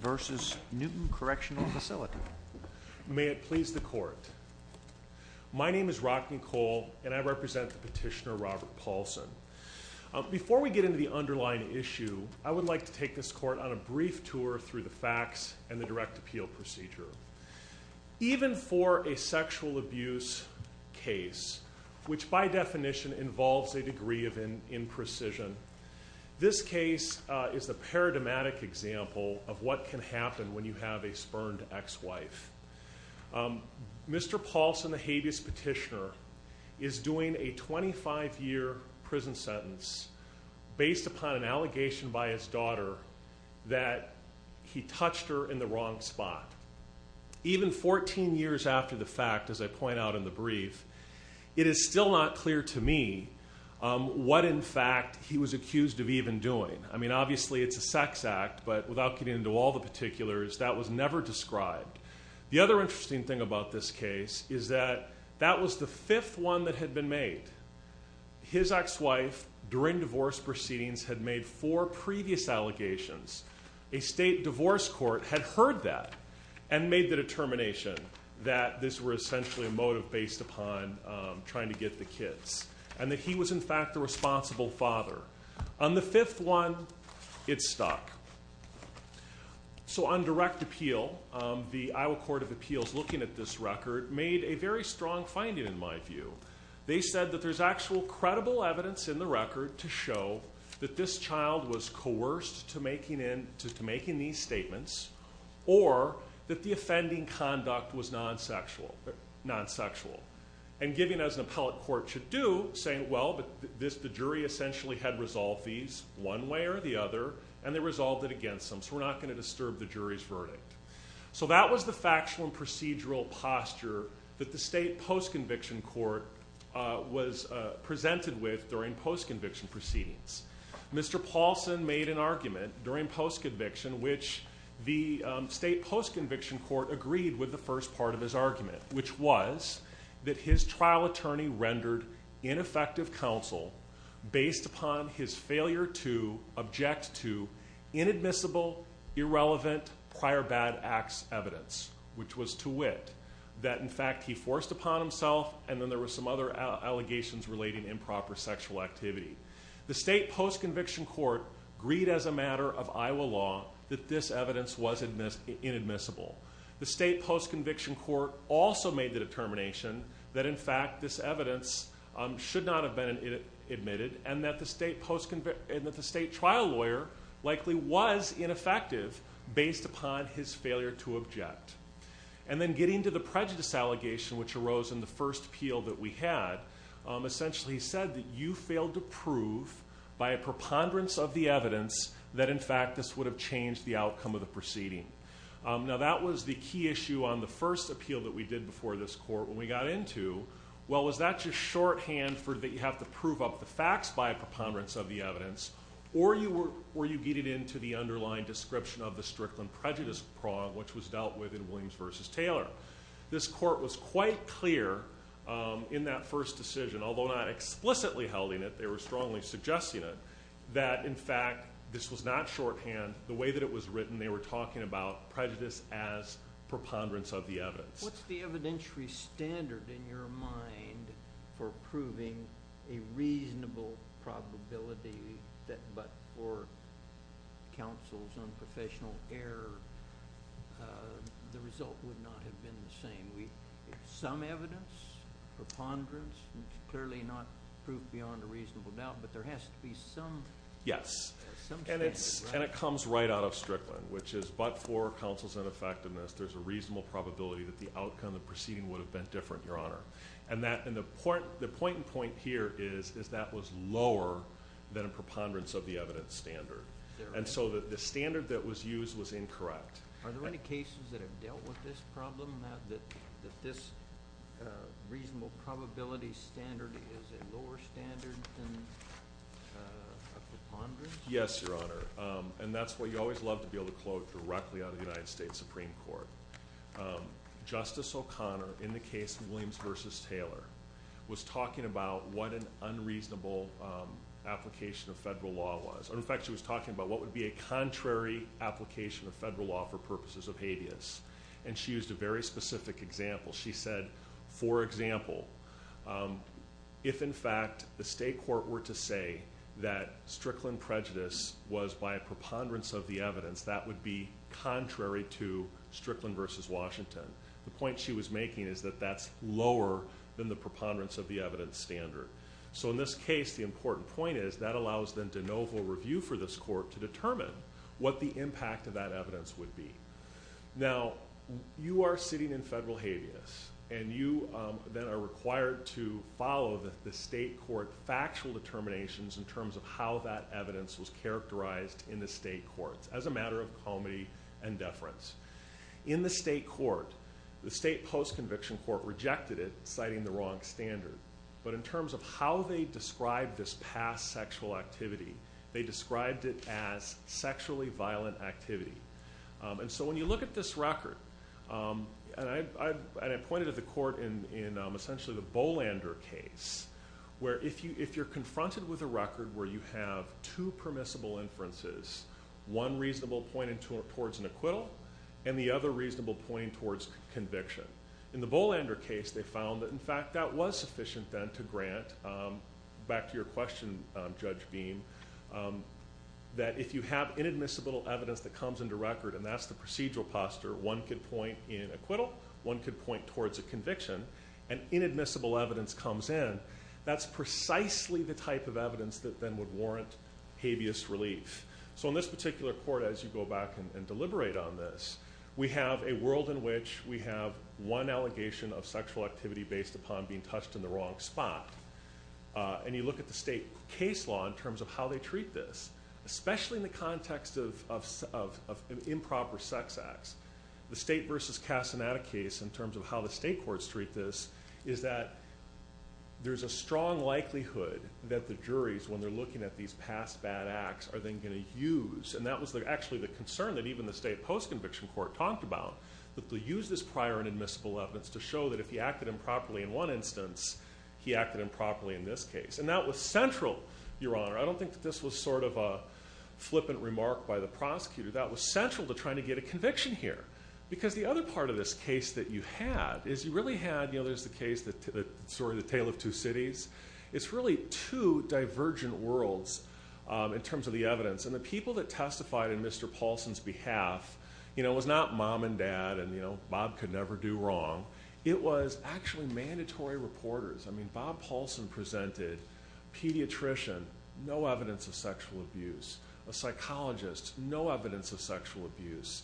May it please the court. My name is Rocky Cole and I represent the petitioner Robert Paulson. Before we get into the underlying issue, I would like to take this court on a brief tour through the facts and the direct appeal procedure. Even for a sexual abuse case, which by definition involves a degree of imprecision, this case is a paradigmatic example of what can happen when you have a spurned ex-wife. Mr. Paulson, the habeas petitioner, is doing a 25-year prison sentence based upon an allegation by his daughter that he touched her in the wrong spot. Even 14 years after the fact, as I point out in the brief, it is still not clear to me what in fact he was accused of even doing. I mean, obviously it's a sex act, but without getting into all the particulars, that was never described. The other interesting thing about this case is that that was the fifth one that had been made. His ex-wife, during divorce proceedings, had made four previous allegations. A state divorce court had heard that and made the determination that this was essentially a motive based upon trying to get the kids and that he was in fact the responsible father. On the fifth one, it stuck. So on direct appeal, the Iowa Court of Appeals, looking at this record, made a very strong finding in my view. They said that there's actual credible evidence in the record to show that this child was coerced into making these statements or that the offending conduct was non-sexual. And giving as an appellate court should do, saying, well, the jury essentially had resolved these one way or the other, and they resolved it against them, so we're not going to disturb the jury's verdict. So that was the factual and procedural posture that the state post-conviction court was presented with during post-conviction proceedings. Mr. Paulson made an argument during post-conviction, which the state post-conviction court agreed with the first part of his argument, which was that his trial attorney rendered ineffective counsel based upon his failure to object to inadmissible, irrelevant, prior bad acts evidence, which was to wit that in fact he forced upon himself, and then there were some other allegations relating improper sexual activity. The state post-conviction court agreed as a matter of Iowa law that this evidence was inadmissible. The state post-conviction court also made the determination that in fact this evidence should not have been admitted, and that the state trial lawyer likely was ineffective based upon his failure to object. And then getting to the prejudice allegation which arose in the first appeal that we had, essentially he said that you failed to prove by a preponderance of the evidence that in fact this would have changed the outcome of the proceeding. Now that was the key issue on the first appeal that we did before this court when we got into, well, was that just shorthand for that you have to prove up the facts by a preponderance of the evidence, or were you getting into the underlying description of the Strickland prejudice prong which was dealt with in Williams v. Taylor. This court was quite clear in that first decision, although not explicitly holding it, they were strongly suggesting it, that in fact this was not shorthand. The way that it was written, they were talking about prejudice as preponderance of the evidence. What's the evidentiary standard in your mind for proving a reasonable probability that but for counsel's unprofessional error, the result would not have been the same? Some evidence, preponderance, clearly not proof beyond a reasonable doubt, but there has to be some standard, right? Yes, and it comes right out of Strickland, which is but for counsel's ineffectiveness, there's a reasonable probability that the outcome of the proceeding would have been different, Your Honor. And the point in point here is that was lower than a preponderance of the evidence standard. And so the standard that was used was incorrect. Are there any cases that have dealt with this problem, that this reasonable probability standard is a lower standard than a preponderance? Yes, Your Honor, and that's what you always love to be able to quote directly out of the United States Supreme Court. Justice O'Connor, in the case of Williams v. Taylor, was talking about what an unreasonable application of federal law was. In fact, she was talking about what would be a contrary application of federal law for purposes of habeas. And she used a very specific example. She said, for example, if, in fact, the state court were to say that Strickland prejudice was by a preponderance of the evidence, that would be contrary to Strickland v. Washington. The point she was making is that that's lower than the preponderance of the evidence standard. So in this case, the important point is that allows the de novo review for this court to determine what the impact of that evidence would be. Now, you are sitting in federal habeas, and you then are required to follow the state court factual determinations in terms of how that evidence was characterized in the state courts as a matter of comity and deference. In the state court, the state post-conviction court rejected it, citing the wrong standard. But in terms of how they described this past sexual activity, they described it as sexually violent activity. And so when you look at this record, and I pointed at the court in essentially the Bolander case, where if you're confronted with a record where you have two permissible inferences, one reasonable point towards an acquittal and the other reasonable point towards conviction. In the Bolander case, they found that, in fact, that was sufficient then to grant, back to your question, Judge Beam, that if you have inadmissible evidence that comes into record, and that's the procedural posture, one could point in acquittal, one could point towards a conviction, and inadmissible evidence comes in, that's precisely the type of evidence that then would warrant habeas relief. So in this particular court, as you go back and deliberate on this, we have a world in which we have one allegation of sexual activity based upon being touched in the wrong spot. And you look at the state case law in terms of how they treat this, especially in the context of improper sex acts. The State v. Casanata case, in terms of how the state courts treat this, is that there's a strong likelihood that the juries, when they're looking at these past bad acts, are then going to use, and that was actually the concern that even the state post-conviction court talked about, that they use this prior inadmissible evidence to show that if he acted improperly in one instance, he acted improperly in this case. And that was central, Your Honor. I don't think that this was sort of a flippant remark by the prosecutor. That was central to trying to get a conviction here. Because the other part of this case that you had is you really had, you know, there's the case, the story of the Tale of Two Cities. It's really two divergent worlds in terms of the evidence. And the people that testified in Mr. Paulson's behalf, you know, it was not mom and dad and, you know, Bob could never do wrong. It was actually mandatory reporters. I mean, Bob Paulson presented pediatrician, no evidence of sexual abuse, a psychologist, no evidence of sexual abuse,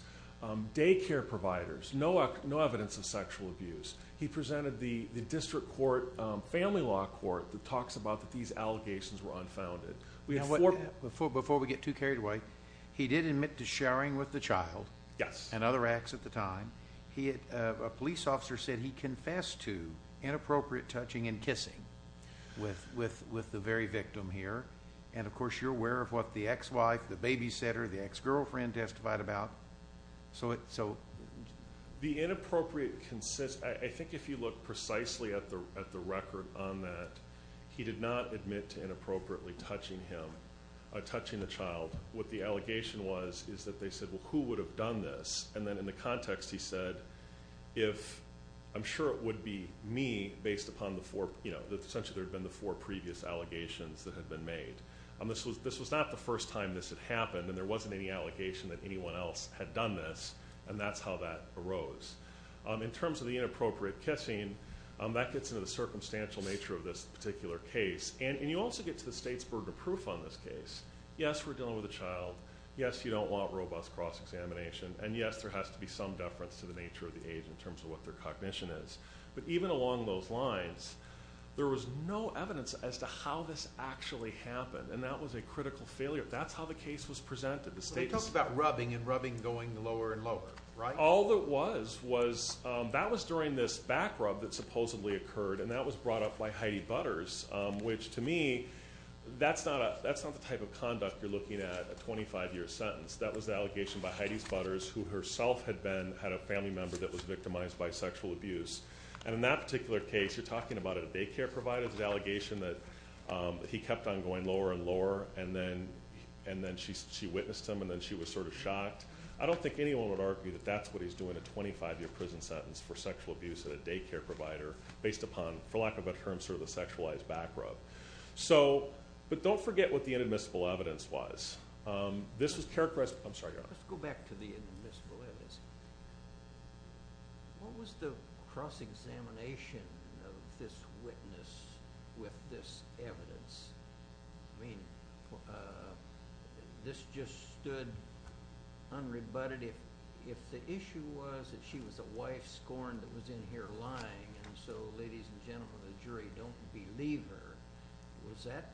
daycare providers, no evidence of sexual abuse. He presented the district court family law court that talks about that these allegations were unfounded. Before we get too carried away, he did admit to sharing with the child and other acts at the time. A police officer said he confessed to inappropriate touching and kissing with the very victim here. And, of course, you're aware of what the ex-wife, the babysitter, the ex-girlfriend testified about. The inappropriate, I think if you look precisely at the record on that, he did not admit to inappropriately touching him, touching the child. What the allegation was is that they said, well, who would have done this? And then in the context, he said, if I'm sure it would be me based upon the four, you know, essentially there had been the four previous allegations that had been made. This was not the first time this had happened, and there wasn't any allegation that anyone else had done this, and that's how that arose. In terms of the inappropriate kissing, that gets into the circumstantial nature of this particular case. And you also get to the state's burden of proof on this case. Yes, we're dealing with a child. Yes, you don't want robust cross-examination. And, yes, there has to be some deference to the nature of the age in terms of what their cognition is. But even along those lines, there was no evidence as to how this actually happened, and that was a critical failure. That's how the case was presented. They talked about rubbing and rubbing going lower and lower, right? All that was was that was during this back rub that supposedly occurred, and that was brought up by Heidi Butters, which to me, that's not the type of conduct you're looking at, a 25-year sentence. That was the allegation by Heidi Butters, who herself had been, had a family member that was victimized by sexual abuse. And in that particular case, you're talking about a daycare provider, the allegation that he kept on going lower and lower, and then she witnessed him, and then she was sort of shocked. I don't think anyone would argue that that's what he's doing, a 25-year prison sentence for sexual abuse at a daycare provider, based upon, for lack of a better term, sort of the sexualized back rub. So, but don't forget what the inadmissible evidence was. This was characterized – I'm sorry, Your Honor. Let's go back to the inadmissible evidence. What was the cross-examination of this witness with this evidence? I mean, this just stood unrebutted. If the issue was that she was a wife scorned that was in here lying, and so ladies and gentlemen of the jury don't believe her, was that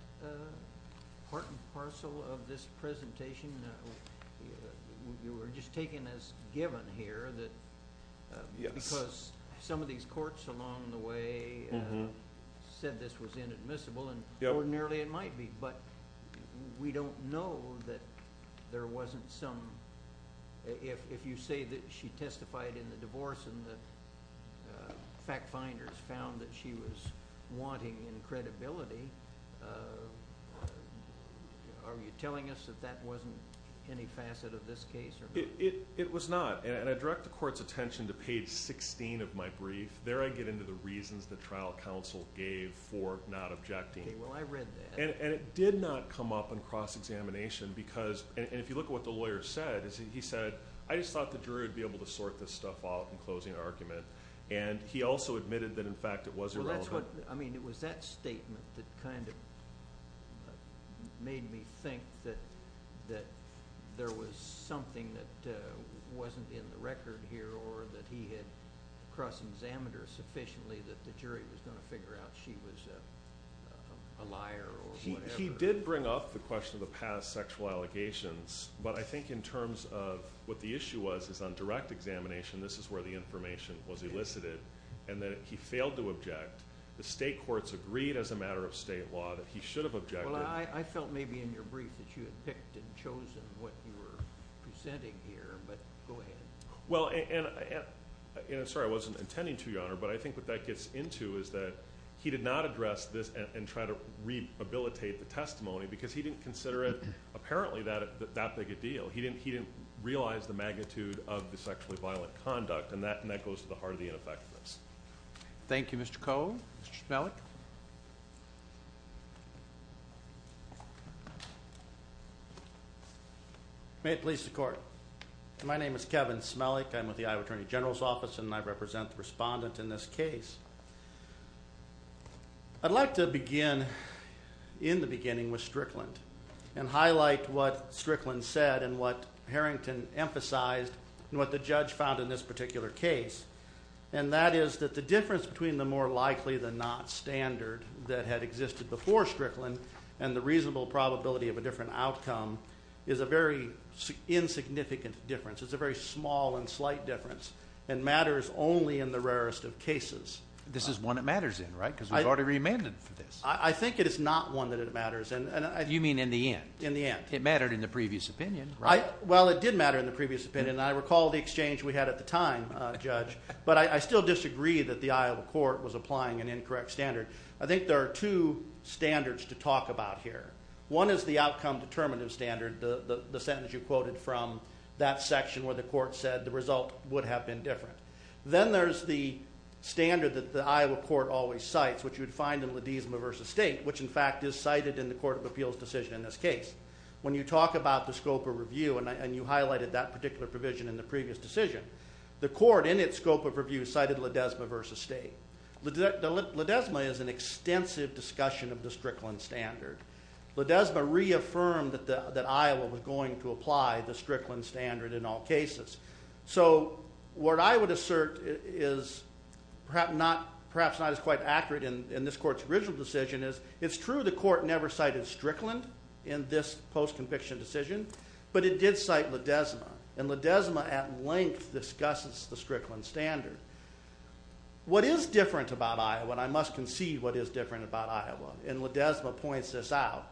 part and parcel of this presentation? You were just taking as given here that because some of these courts along the way said this was inadmissible, and ordinarily it might be, but we don't know that there wasn't some – if you say that she testified in the divorce and the fact finders found that she was wanting in credibility, are you telling us that that wasn't any facet of this case? It was not, and I direct the Court's attention to page 16 of my brief. There I get into the reasons the trial counsel gave for not objecting. Okay, well, I read that. And it did not come up in cross-examination because – and if you look at what the lawyer said, he said, I just thought the jury would be able to sort this stuff out in closing argument. And he also admitted that, in fact, it was irrelevant. I mean, it was that statement that kind of made me think that there was something that wasn't in the record here or that he had cross-examined her sufficiently that the jury was going to figure out she was a liar or whatever. He did bring up the question of the past sexual allegations, but I think in terms of what the issue was is on direct examination this is where the information was elicited and that he failed to object. The state courts agreed as a matter of state law that he should have objected. Well, I felt maybe in your brief that you had picked and chosen what you were presenting here, but go ahead. Well, and I'm sorry, I wasn't intending to, Your Honor, but I think what that gets into is that he did not address this and try to rehabilitate the testimony because he didn't consider it apparently that big a deal. He didn't realize the magnitude of the sexually violent conduct, and that goes to the heart of the ineffectiveness. Thank you, Mr. Coe. Mr. Smelik. May it please the Court. My name is Kevin Smelik. I'm with the Iowa Attorney General's Office, and I represent the respondent in this case. I'd like to begin in the beginning with Strickland and highlight what Strickland said and what Harrington emphasized and what the judge found in this particular case, and that is that the difference between the more likely than not standard that had existed before Strickland and the reasonable probability of a different outcome is a very insignificant difference. It's a very small and slight difference and matters only in the rarest of cases. This is one it matters in, right, because we've already re-amended for this. I think it is not one that it matters in. You mean in the end? In the end. It mattered in the previous opinion, right? Well, it did matter in the previous opinion, and I recall the exchange we had at the time, Judge, but I still disagree that the Iowa court was applying an incorrect standard. I think there are two standards to talk about here. One is the outcome determinative standard, the sentence you quoted from that section where the court said the result would have been different. Then there's the standard that the Iowa court always cites, which you would find in Ledesma v. State, which in fact is cited in the Court of Appeals decision in this case. When you talk about the scope of review, and you highlighted that particular provision in the previous decision, the court in its scope of review cited Ledesma v. State. Ledesma is an extensive discussion of the Strickland standard. Ledesma reaffirmed that Iowa was going to apply the Strickland standard in all cases. So what I would assert is perhaps not as quite accurate in this court's original decision, is it's true the court never cited Strickland in this post-conviction decision, but it did cite Ledesma, and Ledesma at length discusses the Strickland standard. What is different about Iowa, and I must concede what is different about Iowa, and Ledesma points this out,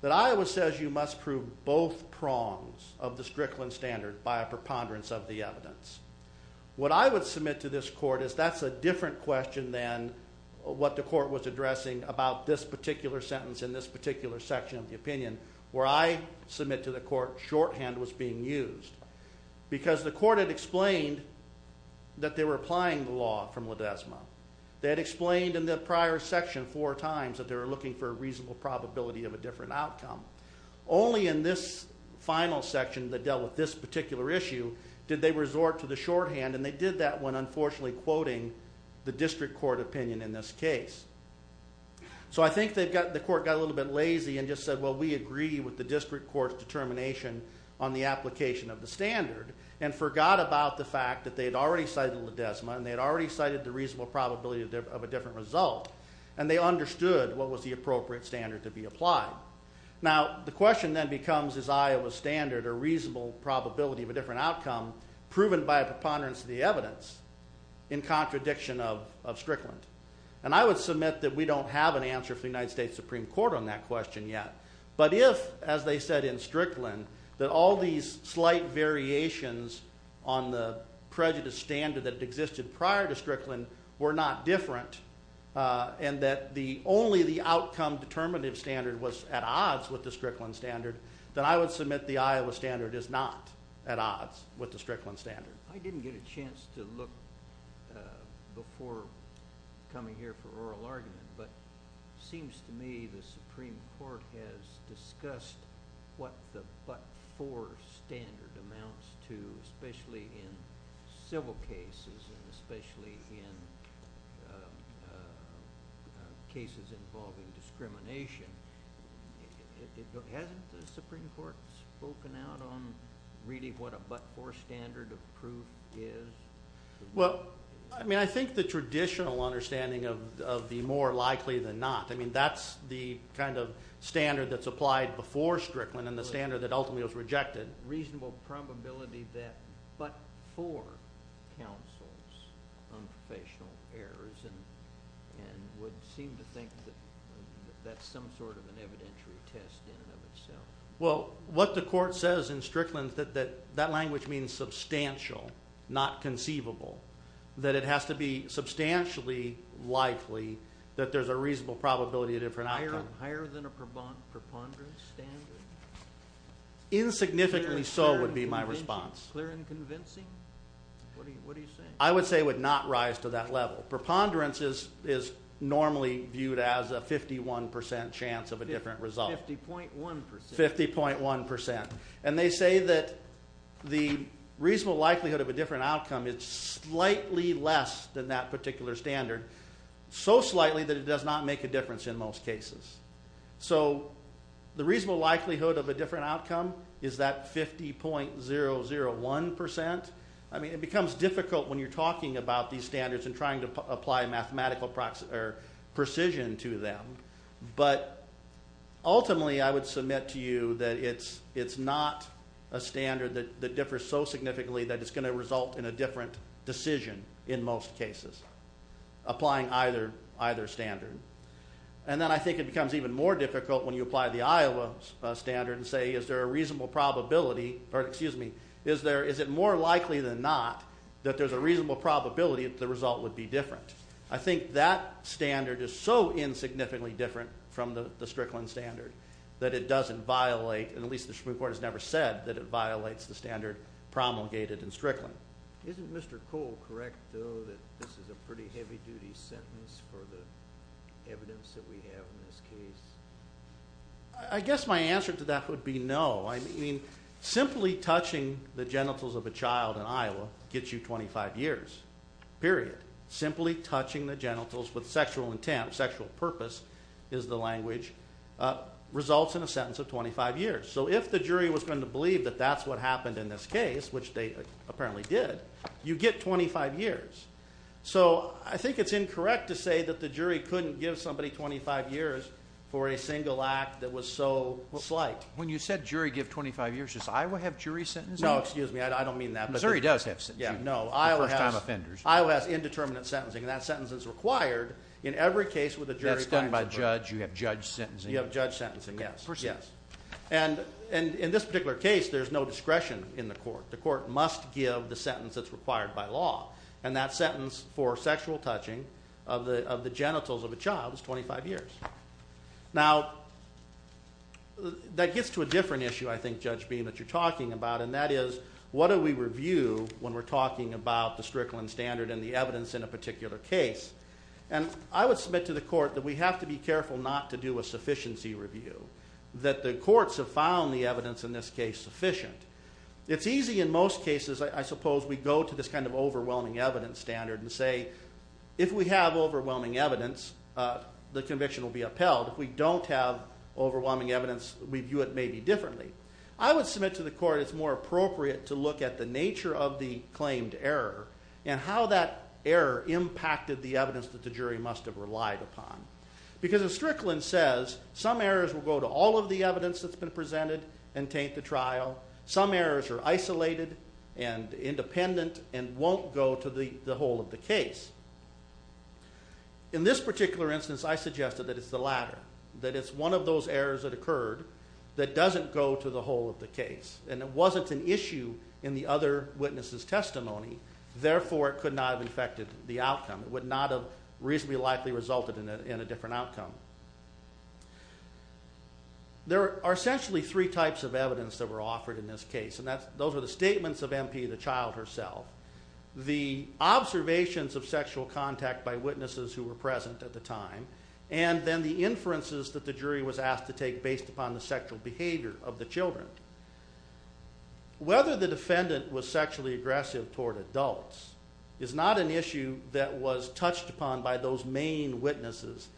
that Iowa says you must prove both prongs of the Strickland standard by a preponderance of the evidence. What I would submit to this court is that's a different question than what the court was addressing about this particular sentence in this particular section of the opinion, where I submit to the court shorthand was being used, because the court had explained that they were applying the law from Ledesma. They had explained in the prior section four times that they were looking for a reasonable probability of a different outcome. Only in this final section that dealt with this particular issue did they resort to the shorthand, and they did that when unfortunately quoting the district court opinion in this case. So I think the court got a little bit lazy and just said, well, we agree with the district court's determination on the application of the standard, and forgot about the fact that they had already cited Ledesma, and they had already cited the reasonable probability of a different result, and they understood what was the appropriate standard to be applied. Now the question then becomes is Iowa's standard a reasonable probability of a different outcome proven by a preponderance of the evidence in contradiction of Strickland? And I would submit that we don't have an answer from the United States Supreme Court on that question yet, but if, as they said in Strickland, that all these slight variations on the prejudice standard that existed prior to Strickland were not different, and that only the outcome determinative standard was at odds with the Strickland standard, then I would submit the Iowa standard is not at odds with the Strickland standard. I didn't get a chance to look before coming here for oral argument, but it seems to me the Supreme Court has discussed what the but-for standard amounts to, especially in civil cases and especially in cases involving discrimination. Hasn't the Supreme Court spoken out on really what a but-for standard of proof is? Well, I mean I think the traditional understanding of the more likely than not, I mean that's the kind of standard that's applied before Strickland and the standard that ultimately was rejected. Reasonable probability that but-for counsels on professional errors and would seem to think that that's some sort of an evidentiary test in and of itself. Well, what the court says in Strickland that that language means substantial, not conceivable, that it has to be substantially likely that there's a reasonable probability of different outcome. Higher than a preponderance standard? Insignificantly so would be my response. Clear and convincing? What are you saying? I would say it would not rise to that level. Preponderance is normally viewed as a 51% chance of a different result. 50.1%. 50.1%. And they say that the reasonable likelihood of a different outcome is slightly less than that particular standard, so slightly that it does not make a difference in most cases. So the reasonable likelihood of a different outcome is that 50.001%. I mean it becomes difficult when you're talking about these standards and trying to apply mathematical precision to them, but ultimately I would submit to you that it's not a standard that differs so significantly that it's going to result in a different decision in most cases, applying either standard. And then I think it becomes even more difficult when you apply the Iowa standard and say is there a reasonable probability, or excuse me, is it more likely than not that there's a reasonable probability that the result would be different? I think that standard is so insignificantly different from the Strickland standard that it doesn't violate, and at least the Supreme Court has never said, that it violates the standard promulgated in Strickland. Isn't Mr. Cole correct, though, that this is a pretty heavy-duty sentence for the evidence that we have in this case? I guess my answer to that would be no. I mean simply touching the genitals of a child in Iowa gets you 25 years, period. Simply touching the genitals with sexual intent, sexual purpose is the language, results in a sentence of 25 years. So if the jury was going to believe that that's what happened in this case, which they apparently did, you get 25 years. So I think it's incorrect to say that the jury couldn't give somebody 25 years for a single act that was so slight. When you said jury give 25 years, does Iowa have jury sentencing? No, excuse me, I don't mean that. Missouri does have sentencing for first-time offenders. Iowa has indeterminate sentencing, and that sentence is required in every case with a jury. That's done by judge. You have judge sentencing. You have judge sentencing, yes. And in this particular case, there's no discretion in the court. The court must give the sentence that's required by law, and that sentence for sexual touching of the genitals of a child is 25 years. Now, that gets to a different issue, I think, Judge Beam, that you're talking about, and that is what do we review when we're talking about the Strickland Standard and the evidence in a particular case? And I would submit to the court that we have to be careful not to do a sufficiency review, that the courts have found the evidence in this case sufficient. It's easy in most cases, I suppose, we go to this kind of overwhelming evidence standard and say, if we have overwhelming evidence, the conviction will be upheld. If we don't have overwhelming evidence, we view it maybe differently. I would submit to the court it's more appropriate to look at the nature of the claimed error and how that error impacted the evidence that the jury must have relied upon. Because as Strickland says, some errors will go to all of the evidence that's been presented and taint the trial. Some errors are isolated and independent and won't go to the whole of the case. In this particular instance, I suggested that it's the latter, that it's one of those errors that occurred that doesn't go to the whole of the case, and it wasn't an issue in the other witness's testimony. Therefore, it could not have affected the outcome. It would not have reasonably likely resulted in a different outcome. There are essentially three types of evidence that were offered in this case, and those are the statements of MP, the child herself, the observations of sexual contact by witnesses who were present at the time, and then the inferences that the jury was asked to take based upon the sexual behavior of the children. Whether the defendant was sexually aggressive toward adults is not an issue that was touched upon by those main witnesses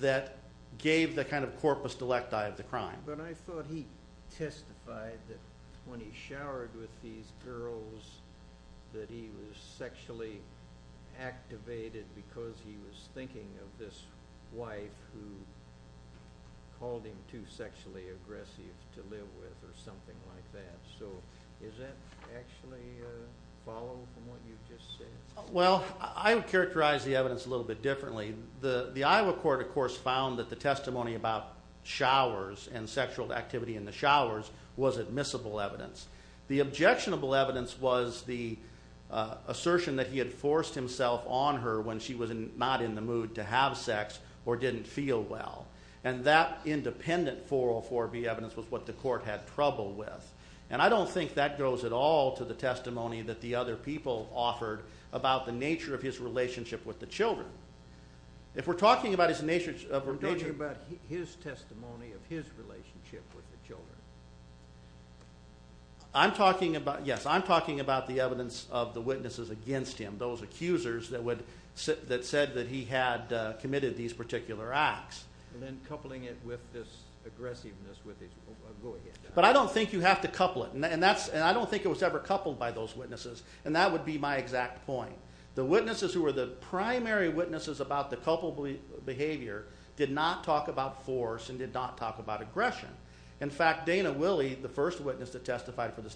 that gave the kind of corpus delecti of the crime. But I thought he testified that when he showered with these girls that he was sexually activated because he was thinking of this wife who called him too sexually aggressive to live with or something like that. So does that actually follow from what you just said? Well, I would characterize the evidence a little bit differently. The Iowa court, of course, found that the testimony about showers and sexual activity in the showers was admissible evidence. The objectionable evidence was the assertion that he had forced himself on her when she was not in the mood to have sex or didn't feel well. And that independent 404B evidence was what the court had trouble with. And I don't think that goes at all to the testimony that the other people offered about the nature of his relationship with the children. If we're talking about his nature of relationship... Yes, I'm talking about the evidence of the witnesses against him, those accusers that said that he had committed these particular acts. And then coupling it with this aggressiveness with his... But I don't think you have to couple it, and I don't think it was ever coupled by those witnesses, and that would be my exact point. The witnesses who were the primary witnesses about the culpable behavior did not talk about force and did not talk about aggression. In fact, Dana Willey, the first witness that testified for the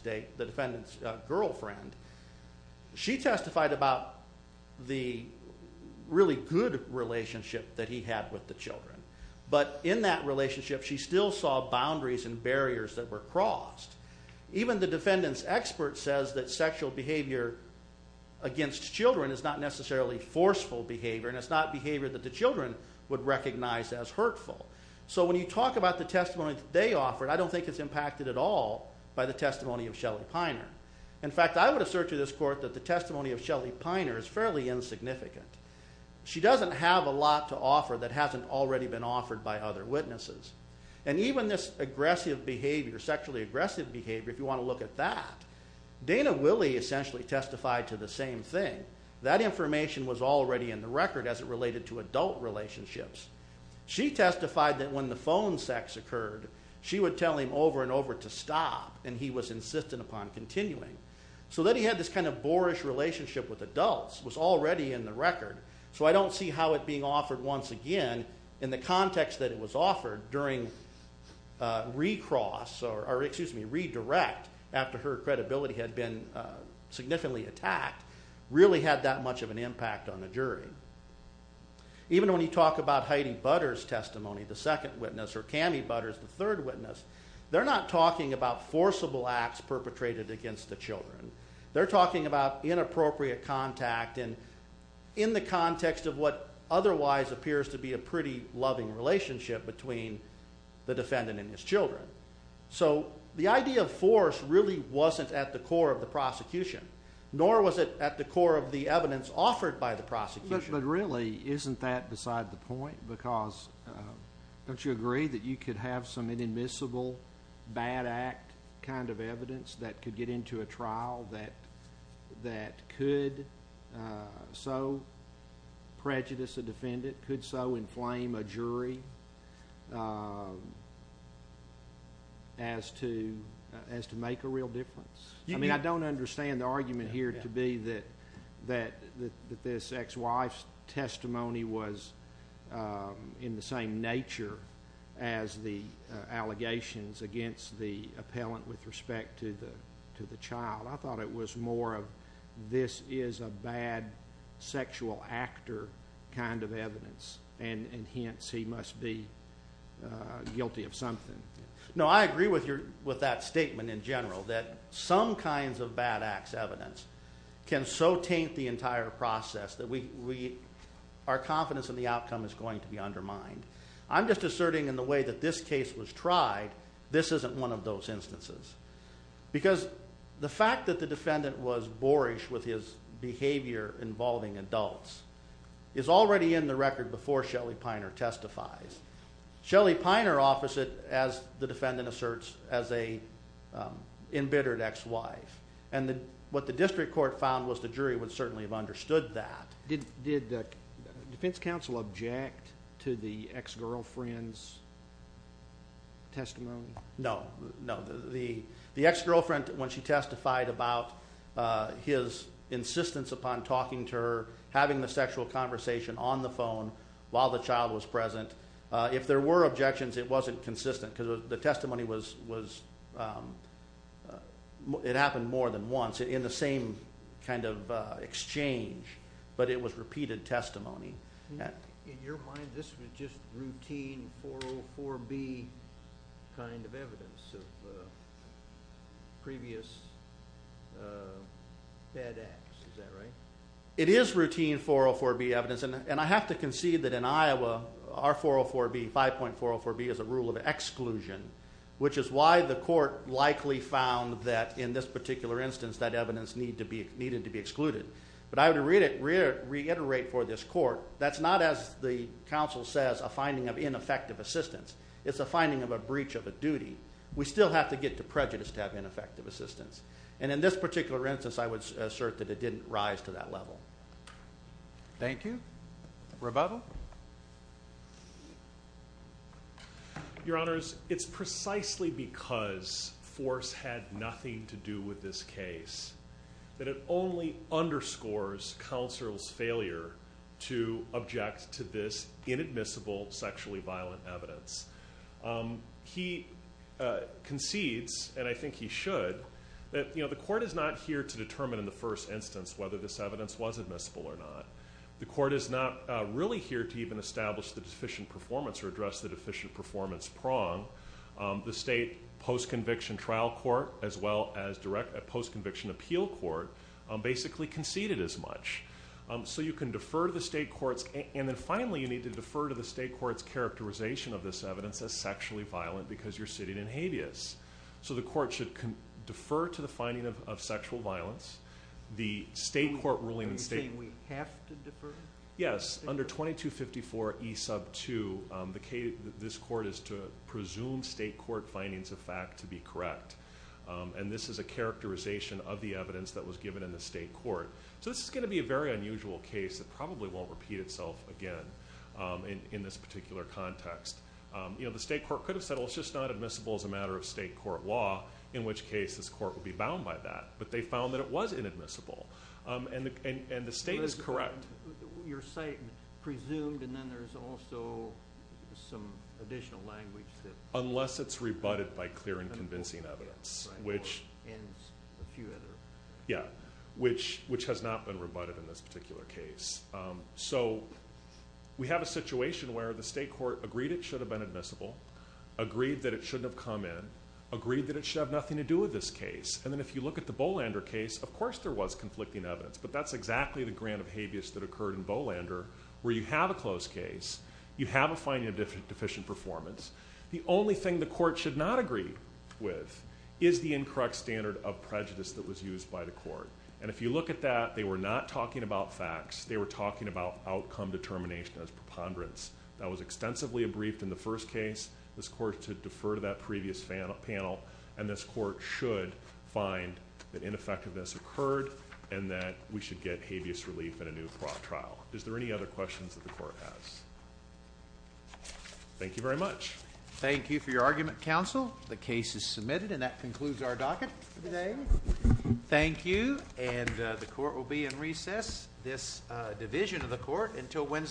defendant's girlfriend, she testified about the really good relationship that he had with the children. But in that relationship, she still saw boundaries and barriers that were crossed. Even the defendant's expert says that sexual behavior against children is not necessarily forceful behavior, and it's not behavior that the children would recognize as hurtful. So when you talk about the testimony that they offered, I don't think it's impacted at all by the testimony of Shelley Piner. In fact, I would assert to this court that the testimony of Shelley Piner is fairly insignificant. She doesn't have a lot to offer that hasn't already been offered by other witnesses. And even this aggressive behavior, sexually aggressive behavior, if you want to look at that, Dana Willey essentially testified to the same thing. That information was already in the record as it related to adult relationships. She testified that when the phone sex occurred, she would tell him over and over to stop, and he was insistent upon continuing. So that he had this kind of boorish relationship with adults was already in the record. So I don't see how it being offered once again, in the context that it was offered during redirect after her credibility had been significantly attacked, really had that much of an impact on the jury. Even when you talk about Heidi Butters' testimony, the second witness, or Cammie Butters, the third witness, they're not talking about forcible acts perpetrated against the children. They're talking about inappropriate contact in the context of what otherwise appears to be a pretty loving relationship between the defendant and his children. Nor was it at the core of the evidence offered by the prosecution. But really, isn't that beside the point? Because don't you agree that you could have some inadmissible, bad act kind of evidence that could get into a trial that could so prejudice a defendant, could so inflame a jury as to make a real difference? I mean, I don't understand the argument here to be that this ex-wife's testimony was in the same nature as the allegations against the appellant with respect to the child. I thought it was more of this is a bad sexual actor kind of evidence, and hence he must be guilty of something. No, I agree with that statement in general, that some kinds of bad acts evidence can so taint the entire process that our confidence in the outcome is going to be undermined. I'm just asserting in the way that this case was tried, this isn't one of those instances. Because the fact that the defendant was boorish with his behavior involving adults is already in the record before Shelly Piner testifies. Shelly Piner offers it, as the defendant asserts, as an embittered ex-wife. And what the district court found was the jury would certainly have understood that. Did the defense counsel object to the ex-girlfriend's testimony? No, no. The ex-girlfriend, when she testified about his insistence upon talking to her, having the sexual conversation on the phone while the child was present, if there were objections, it wasn't consistent because the testimony was, it happened more than once in the same kind of exchange, but it was repeated testimony. In your mind, this was just routine 404B kind of evidence of previous bad acts. Is that right? It is routine 404B evidence, and I have to concede that in Iowa, our 404B, 5.404B is a rule of exclusion, which is why the court likely found that in this particular instance that evidence needed to be excluded. But I would reiterate for this court, that's not, as the counsel says, a finding of ineffective assistance. It's a finding of a breach of a duty. We still have to get to prejudice to have ineffective assistance. And in this particular instance, I would assert that it didn't rise to that level. Thank you. Rebuttal. Your Honors, it's precisely because force had nothing to do with this case that it only underscores counsel's failure to object to this inadmissible, sexually violent evidence. He concedes, and I think he should, that the court is not here to determine in the first instance whether this evidence was admissible or not. The court is not really here to even establish the deficient performance or address the deficient performance prong. The state post-conviction trial court, as well as post-conviction appeal court, basically conceded as much. So you can defer to the state courts. And then, finally, you need to defer to the state courts' characterization of this evidence as sexually violent because you're sitting in habeas. So the court should defer to the finding of sexual violence. The state court ruling in state. Are you saying we have to defer? Yes. Under 2254E2, this court is to presume state court findings of fact to be correct. And this is a characterization of the evidence that was given in the state court. So this is going to be a very unusual case that probably won't repeat itself again in this particular context. The state court could have said, well, it's just not admissible as a matter of state court law, in which case this court would be bound by that. But they found that it was inadmissible. And the state is correct. Your site presumed, and then there's also some additional language. Unless it's rebutted by clear and convincing evidence. And a few other. Yeah, which has not been rebutted in this particular case. So we have a situation where the state court agreed it should have been admissible, agreed that it shouldn't have come in, agreed that it should have nothing to do with this case. And then if you look at the Bolander case, of course there was conflicting evidence. But that's exactly the grant of habeas that occurred in Bolander, where you have a closed case, you have a finding of deficient performance. The only thing the court should not agree with is the incorrect standard of prejudice that was used by the court. And if you look at that, they were not talking about facts. They were talking about outcome determination as preponderance. That was extensively abriefed in the first case. This court should defer to that previous panel. And this court should find that ineffectiveness occurred and that we should get habeas relief in a new trial. Is there any other questions that the court has? Thank you very much. Thank you for your argument, counsel. The case is submitted, and that concludes our docket for today. Thank you. And the court will be in recess, this division of the court, until Wednesday.